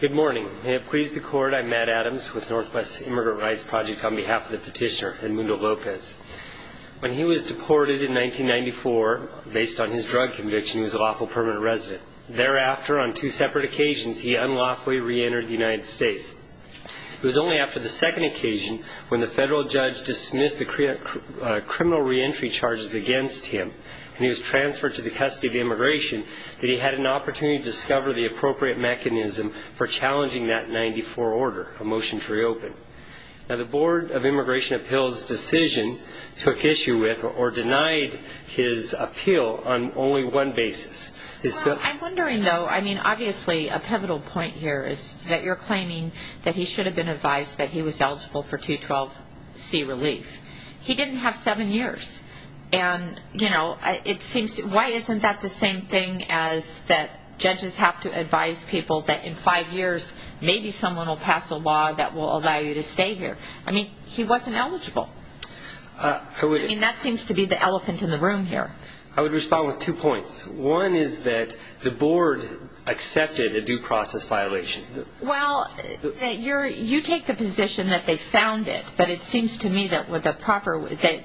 Good morning. May it please the court, I'm Matt Adams with Northwest Immigrant Rights Project on behalf of the petitioner, Edmundo Lopez. When he was deported in 1994, based on his drug conviction, he was a lawful permanent resident. Thereafter, on two separate occasions, he unlawfully re-entered the United States. It was only after the second occasion, when the federal judge dismissed the criminal re-entry charges against him, and he was transferred to the custody of immigration, that he had an opportunity to discover the appropriate mechanism for challenging that 94 order, a motion to re-open. Now, the Board of Immigration Appeals' decision took issue with, or denied, his appeal on only one basis. I'm wondering, though, I mean, obviously, a pivotal point here is that you're claiming that he should have been advised that he was eligible for 212C relief. He didn't have seven years. And, you know, it seems, why isn't that the same thing as that judges have to advise people that in five years, maybe someone will pass a law that will allow you to stay here? I mean, he wasn't eligible. I mean, that seems to be the elephant in the room here. I would respond with two points. One is that the board accepted a due process violation. Well, you take the position that they found it, but it seems to me that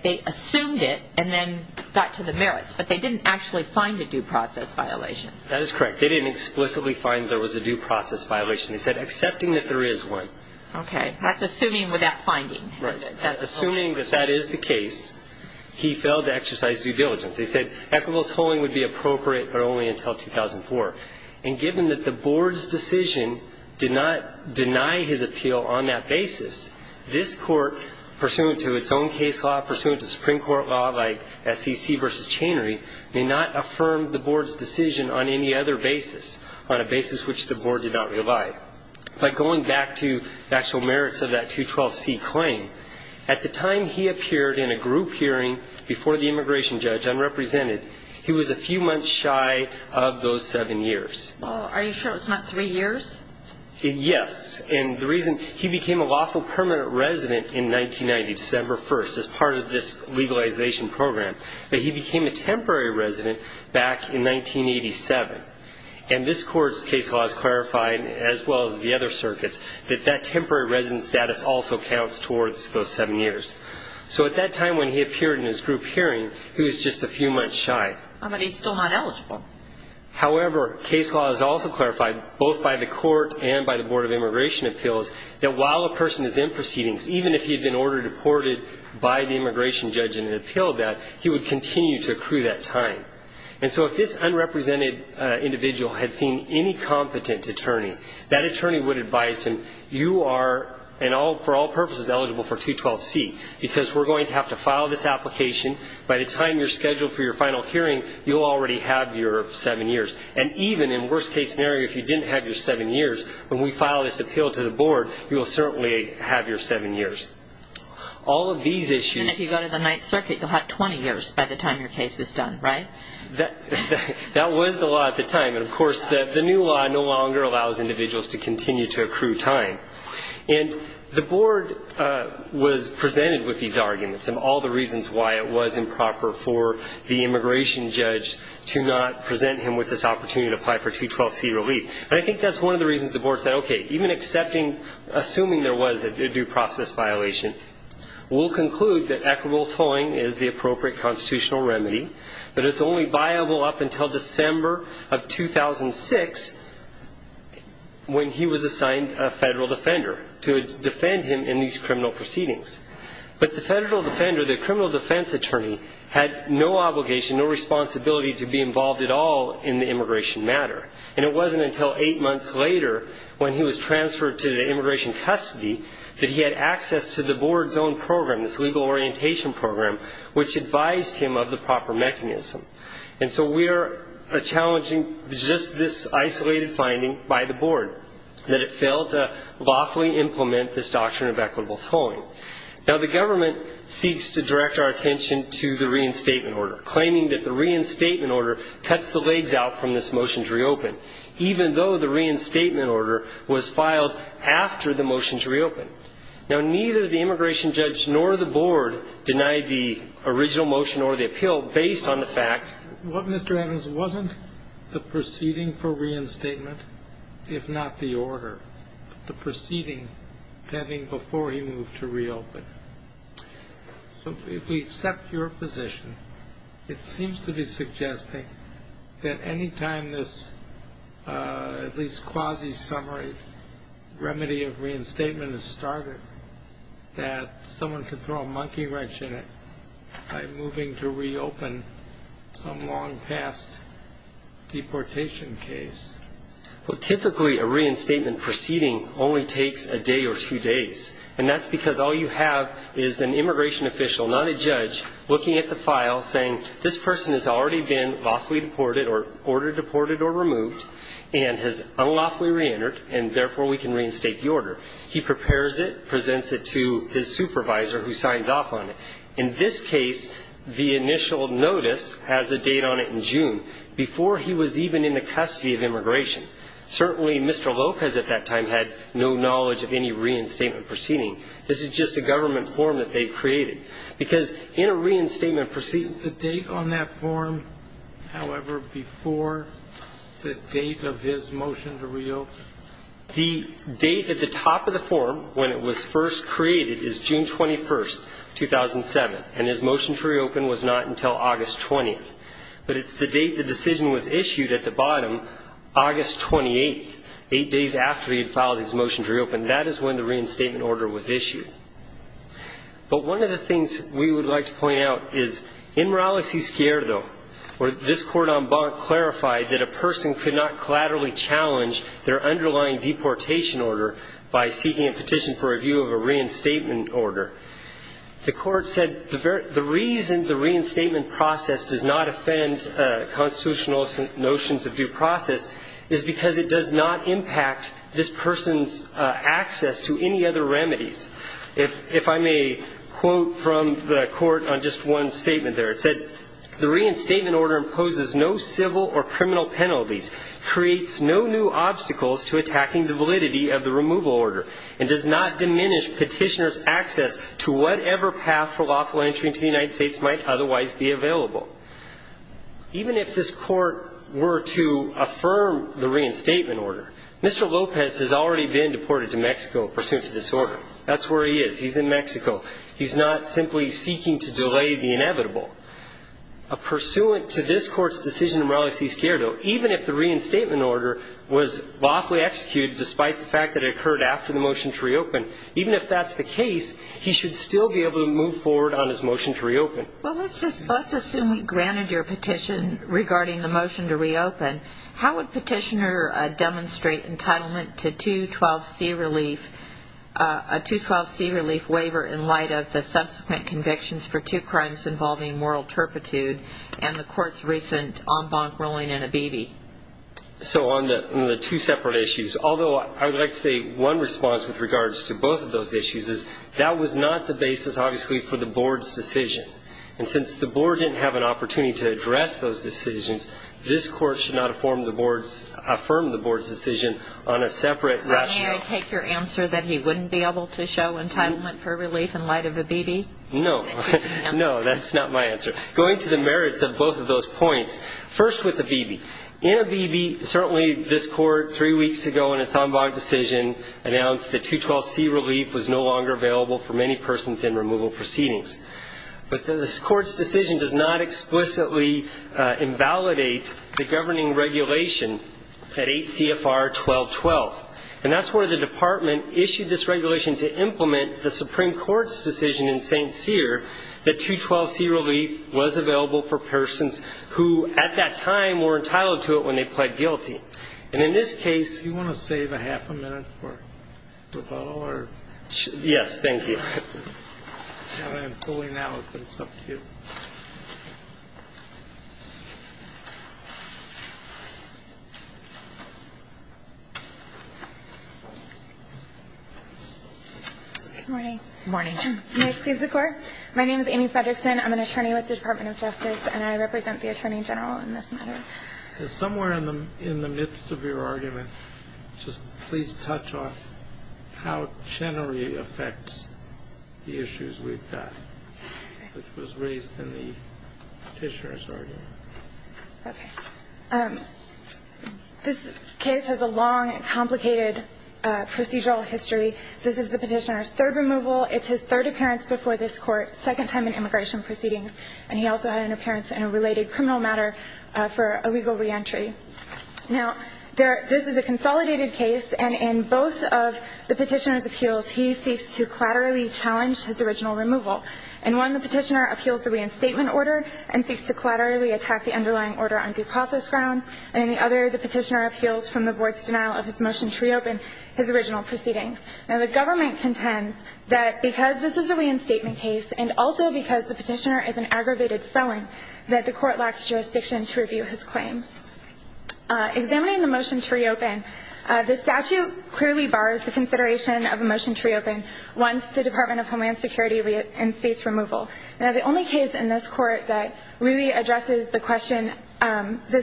they assumed it and then got to the merits, but they didn't actually find a due process violation. That is correct. They didn't explicitly find there was a due process violation. They said, accepting that there is one. Okay. That's assuming without finding. Right. Assuming that that is the case, he failed to exercise due diligence. They said equitable tolling would be appropriate, but only until 2004. And given that the board's decision did not deny his appeal on that basis, this court, pursuant to its own case law, pursuant to Supreme Court law, like SEC versus Chanery, may not affirm the board's decision on any other basis, on a basis which the board did not rely. But going back to the actual merits of that 212C claim, at the time he appeared in a group hearing before the immigration judge, unrepresented, he was a few months shy of those seven years. Are you sure it was not three years? Yes. And the reason he became a lawful permanent resident in 1990, December 1st, as part of this legalization program, but he became a temporary resident back in 1987. And this court's case law has clarified, as well as the other circuits, that that temporary resident status also counts towards those seven years. So at that time when he appeared in his group hearing, he was just a few months shy. But he's still not eligible. However, case law has also clarified, both by the court and by the Board of Immigration Appeals, that while a person is in proceedings, even if he had been ordered deported by the immigration judge and had appealed that, he would continue to accrue that time. And so if this unrepresented individual had seen any competent attorney, that attorney would advise him, you are, for all purposes, eligible for 212C because we're going to have to file this application. By the time you're scheduled for your final hearing, you'll already have your seven years. And even in worst-case scenario, if you didn't have your seven years, when we file this appeal to the board, you will certainly have your seven years. All of these issues... Even if you go to the Ninth Circuit, you'll have 20 years by the time your case is done, right? That was the law at the time. And, of course, the new law no longer allows individuals to continue to accrue time. And the board was presented with these arguments and all the reasons why it was improper for the immigration judge to not present him with this opportunity to apply for 212C relief. And I think that's one of the reasons the board said, okay, even accepting, assuming there was a due process violation, we'll conclude that equitable tolling is the appropriate constitutional remedy, that it's only viable up until December of 2006 when he was assigned a federal defender to defend him in these criminal proceedings. But the federal defender, the criminal defense attorney, had no obligation, no responsibility to be involved at all in the immigration matter. And it wasn't until eight months later, when he was transferred to the immigration custody, that he had access to the board's own program, this legal orientation program, which advised him of the proper mechanism. And so we are challenging just this isolated finding by the board, that it failed to lawfully implement this doctrine of equitable tolling. Now, the government seeks to direct our attention to the reinstatement order, cuts the legs out from this motion to reopen, even though the reinstatement order was filed after the motion to reopen. Now, neither the immigration judge nor the board denied the original motion or the appeal based on the fact that Mr. Adams wasn't the proceeding for reinstatement, if not the order, the proceeding pending before he moved to reopen. So if we accept your position, it seems to be suggesting that any time this, at least quasi-summary, remedy of reinstatement is started, that someone could throw a monkey wrench in it by moving to reopen some long-past deportation case. Well, typically a reinstatement proceeding only takes a day or two days. And that's because all you have is an immigration official, not a judge, looking at the file, saying this person has already been lawfully deported or ordered deported or removed and has unlawfully reentered, and therefore we can reinstate the order. He prepares it, presents it to his supervisor, who signs off on it. In this case, the initial notice has a date on it in June, before he was even in the custody of immigration. Certainly Mr. Lopez at that time had no knowledge of any reinstatement proceeding. This is just a government form that they created. Because in a reinstatement proceeding ---- The date on that form, however, before the date of his motion to reopen? The date at the top of the form, when it was first created, is June 21st, 2007. And his motion to reopen was not until August 20th. But it's the date the decision was issued at the bottom, August 28th, eight days after he had filed his motion to reopen. That is when the reinstatement order was issued. But one of the things we would like to point out is, in Morales y Esquerdo, where this court en banc clarified that a person could not collaterally challenge their underlying deportation order by seeking a petition for review of a reinstatement order, the court said the reason the reinstatement process does not offend constitutional notions of due process is because it does not impact this person's access to any other remedies. If I may quote from the court on just one statement there, it said, the reinstatement order imposes no civil or criminal penalties, creates no new obstacles to attacking the validity of the removal order, and does not diminish petitioner's access to whatever path for lawful entry into the United States might otherwise be available. Even if this court were to affirm the reinstatement order, Mr. Lopez has already been deported to Mexico pursuant to this order. That's where he is. He's in Mexico. He's not simply seeking to delay the inevitable. A pursuant to this court's decision in Morales y Esquerdo, even if the reinstatement order was lawfully executed despite the fact that it occurred after the motion to reopen, even if that's the case, he should still be able to move forward on his motion to reopen. Well, let's assume he granted your petition regarding the motion to reopen. How would petitioner demonstrate entitlement to 212C relief, a 212C relief waiver in light of the subsequent convictions for two crimes involving moral turpitude and the court's recent en banc ruling in Abibi? So on the two separate issues, although I would like to say one response with regards to both of those issues is that was not the basis, obviously, for the board's decision. And since the board didn't have an opportunity to address those decisions, this court should not affirm the board's decision on a separate rationale. May I take your answer that he wouldn't be able to show entitlement for relief in light of Abibi? No. No, that's not my answer. Going to the merits of both of those points, first with Abibi, in Abibi, certainly this court three weeks ago in its en banc decision announced that 212C relief was no longer available for many persons in removal proceedings. But this court's decision does not explicitly invalidate the governing regulation at 8 CFR 1212, and that's where the department issued this regulation to implement the Supreme Court's decision in St. Cyr that 212C relief was available for persons who at that time were entitled to it when they pled guilty. And in this case you want to save a half a minute for rebuttal or? Yes, thank you. I'm pulling out, but it's up to you. Good morning. Good morning. My name is Amy Fredrickson. I'm an attorney with the Department of Justice, and I represent the Attorney General in this matter. Somewhere in the midst of your argument, just please touch on how Chenery affects the issues we've got, which was raised in the Petitioner's argument. Okay. This case has a long and complicated procedural history. This is the Petitioner's third removal. It's his third appearance before this Court, second time in immigration proceedings, and he also had an appearance in a related criminal matter for a legal reentry. Now, this is a consolidated case, and in both of the Petitioner's appeals, he seeks to collaterally challenge his original removal. In one, the Petitioner appeals the reinstatement order and seeks to collaterally attack the underlying order on due process grounds, and in the other, the Petitioner appeals from the board's denial of his motion to reopen his original proceedings. Now, the government contends that because this is a reinstatement case, and also because the Petitioner is an aggravated felon, that the Court lacks jurisdiction to review his claims. Examining the motion to reopen, the statute clearly bars the consideration of a motion to reopen once the Department of Homeland Security reinstates removal. Now, the only case in this Court that really addresses this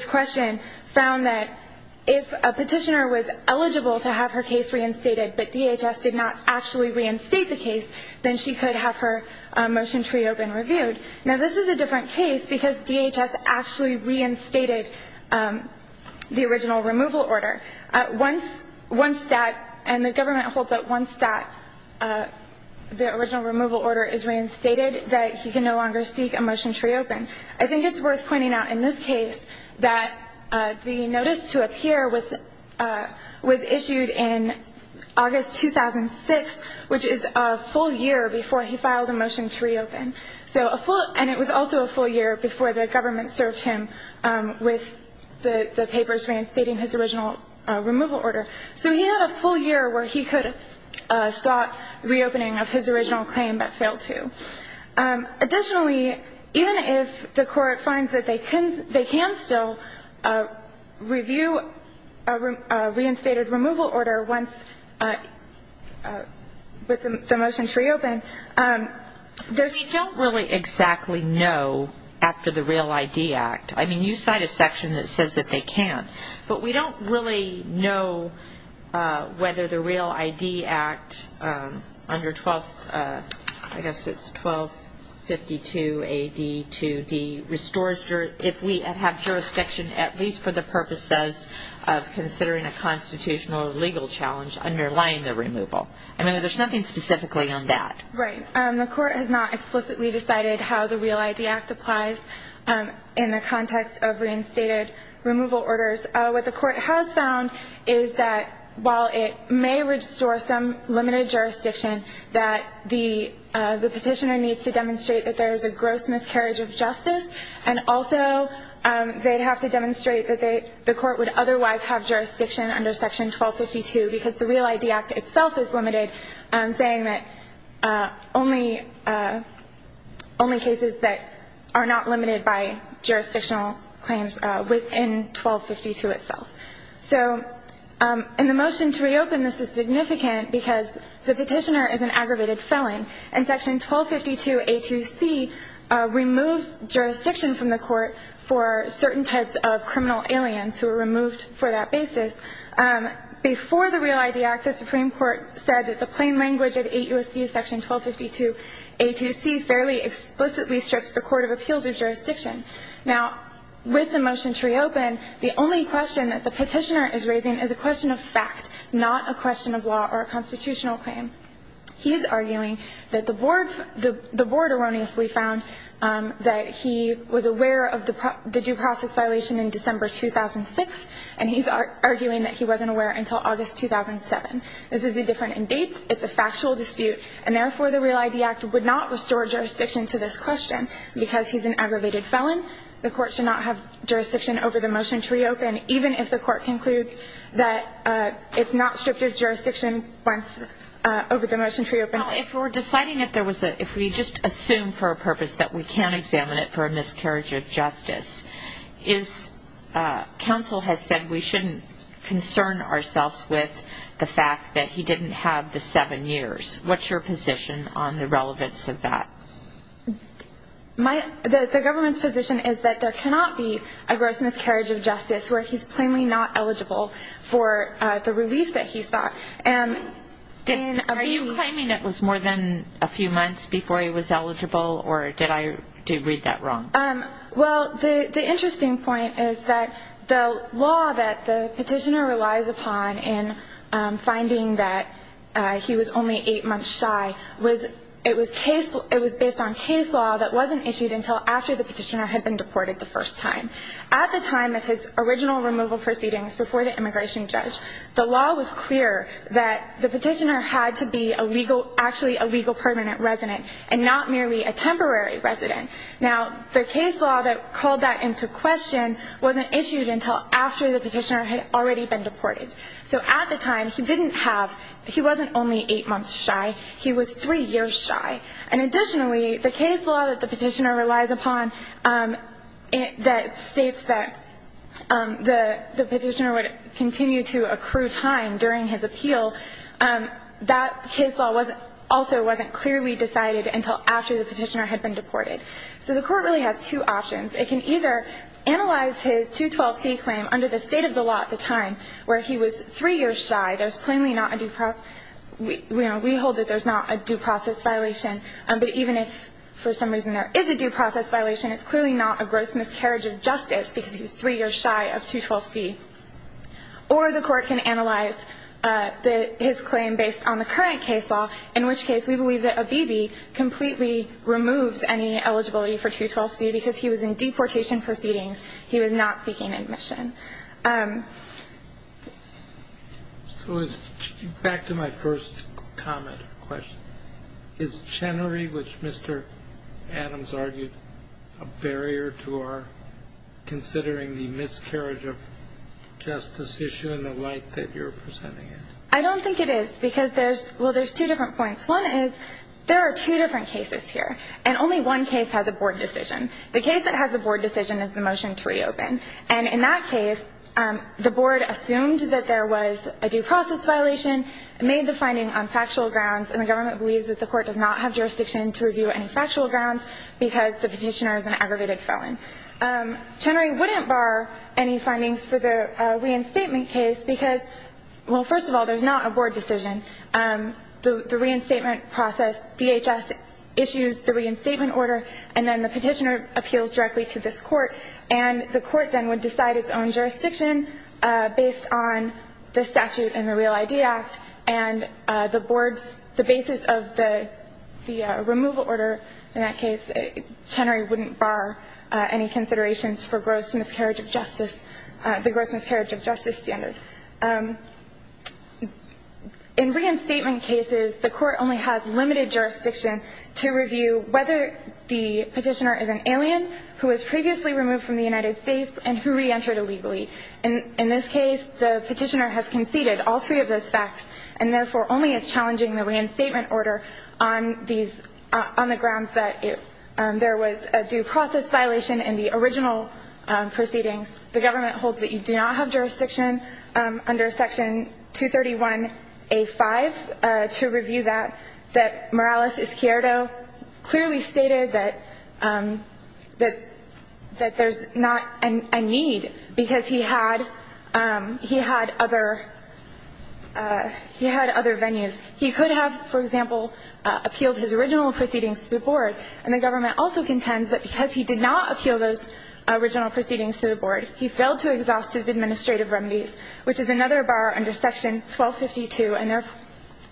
question found that if a Petitioner was eligible to have her case reinstated, but DHS did not actually reinstate the case, then she could have her motion to reopen reviewed. Now, this is a different case because DHS actually reinstated the original removal order. Once that, and the government holds that once that, the original removal order is reinstated, that he can no longer seek a motion to reopen. I think it's worth pointing out in this case that the notice to appear was issued in August 2006, which is a full year before he filed a motion to reopen. And it was also a full year before the government served him with the papers reinstating his original removal order. So he had a full year where he could have sought reopening of his original claim but failed to. Additionally, even if the Court finds that they can still review a reinstated removal order once the motion is reopened, there's still really exactly no after the Real ID Act. I mean, you cite a section that says that they can. But we don't really know whether the Real ID Act under 12, I guess it's 1252 AD 2D, restores if we have jurisdiction at least for the purposes of considering a constitutional or legal challenge underlying the removal. I mean, there's nothing specifically on that. Right. The Court has not explicitly decided how the Real ID Act applies in the context of reinstated removal orders. What the Court has found is that while it may restore some limited jurisdiction, that the petitioner needs to demonstrate that there is a gross miscarriage of justice, and also they'd have to demonstrate that the Court would otherwise have jurisdiction under Section 1252 because the Real ID Act itself is limited, saying that only cases that are not limited by jurisdictional claims within 1252 itself. So in the motion to reopen, this is significant because the petitioner is an aggravated felon, and Section 1252 A2C removes jurisdiction from the Court for certain types of criminal aliens who are removed for that basis. Before the Real ID Act, the Supreme Court said that the plain language of 8 U.S.C. Section 1252 A2C fairly explicitly strips the Court of appeals of jurisdiction. Now, with the motion to reopen, the only question that the petitioner is raising is a question of fact, not a question of law or a constitutional claim. He is arguing that the Board erroneously found that he was aware of the due process violation in December 2006, and he's arguing that he wasn't aware until August 2007. This is indifferent in dates. It's a factual dispute, and therefore the Real ID Act would not restore jurisdiction to this question. Because he's an aggravated felon, the Court should not have jurisdiction over the motion to reopen, even if the Court concludes that it's not stripped of jurisdiction over the motion to reopen. Now, if we're deciding if we just assume for a purpose that we can't examine it for a miscarriage of justice, counsel has said we shouldn't concern ourselves with the fact that he didn't have the seven years. What's your position on the relevance of that? The government's position is that there cannot be a gross miscarriage of justice where he's plainly not eligible for the relief that he sought. Are you claiming it was more than a few months before he was eligible, or did I read that wrong? Well, the interesting point is that the law that the petitioner relies upon in finding that he was only eight months shy, it was based on case law that wasn't issued until after the petitioner had been deported the first time. At the time of his original removal proceedings before the immigration judge, the law was clear that the petitioner had to be actually a legal permanent resident and not merely a temporary resident. Now, the case law that called that into question wasn't issued until after the petitioner had already been deported. So at the time, he wasn't only eight months shy, he was three years shy. And additionally, the case law that the petitioner relies upon that states that the petitioner would continue to accrue time during his appeal, that case law also wasn't clearly decided until after the petitioner had been deported. So the Court really has two options. It can either analyze his 212C claim under the state of the law at the time where he was three years shy, there's plainly not a due process, we hold that there's not a due process violation, but even if for some reason there is a due process violation, it's clearly not a gross miscarriage of justice because he was three years shy of 212C. Or the Court can analyze his claim based on the current case law, in which case we believe that Abebe completely removes any eligibility for 212C because he was in deportation proceedings, he was not seeking admission. So back to my first comment or question. Is Chenery, which Mr. Adams argued, a barrier to our considering the miscarriage of justice issue in the light that you're presenting it? I don't think it is, because there's, well, there's two different points. One is there are two different cases here, and only one case has a board decision. The case that has a board decision is the motion to reopen. And in that case, the board assumed that there was a due process violation, made the finding on factual grounds, and the government believes that the court does not have jurisdiction to review any factual grounds because the petitioner is an aggravated felon. Chenery wouldn't bar any findings for the reinstatement case because, well, first of all, there's not a board decision. The reinstatement process, DHS issues the reinstatement order, and then the petitioner appeals directly to this court, and the court then would decide its own jurisdiction based on the statute in the Real ID Act and the board's, the basis of the removal order. In that case, Chenery wouldn't bar any considerations for gross miscarriage of justice, the gross miscarriage of justice standard. In reinstatement cases, the court only has limited jurisdiction to review whether the petitioner is an alien who was previously removed from the United States and who reentered illegally. In this case, the petitioner has conceded all three of those facts and therefore only is challenging the reinstatement order on these, on the grounds that there was a due process violation in the original proceedings. The government holds that you do not have jurisdiction under Section 231A5 to review that, that Morales-Izquierdo clearly stated that there's not a need because he had other venues. He could have, for example, appealed his original proceedings to the board, and the government also contends that because he did not appeal those original proceedings to the board, he failed to exhaust his administrative remedies, which is another bar under Section 1252 and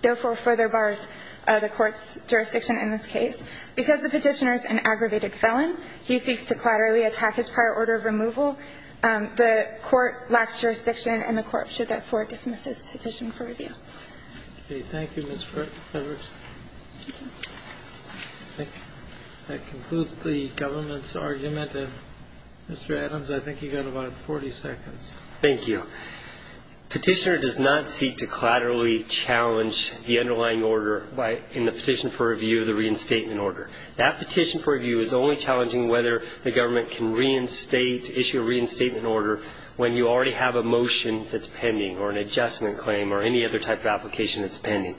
therefore further bars the court's jurisdiction in this case. Because the petitioner is an aggravated felon, he seeks to collaterally attack his prior order of removal. The court lacks jurisdiction and the court should therefore dismiss his petition for review. Thank you, Ms. Rivers. That concludes the government's argument. Mr. Adams, I think you've got about 40 seconds. Thank you. Petitioner does not seek to collaterally challenge the underlying order in the petition for review of the reinstatement order. That petition for review is only challenging whether the government can reinstate, issue a reinstatement order when you already have a motion that's pending or an adjustment claim or any other type of application that's pending.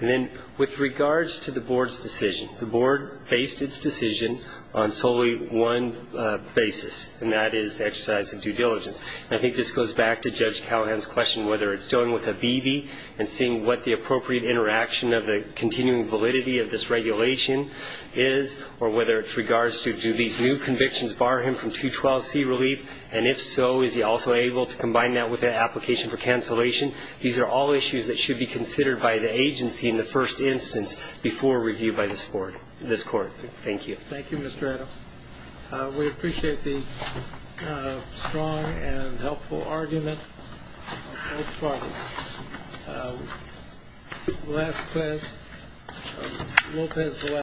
And then with regards to the board's decision, the board based its decision on solely one basis, and that is the exercise of due diligence. I think this goes back to Judge Callahan's question whether it's done with a BB and seeing what the appropriate interaction of the continuing validity of this regulation is or whether it's regards to do these new convictions bar him from 212C relief, and if so, is he also able to combine that with an application for cancellation? These are all issues that should be considered by the agency in the first instance before review by this board, this court. Thank you. Thank you, Mr. Adams. We appreciate the strong and helpful argument of both parties.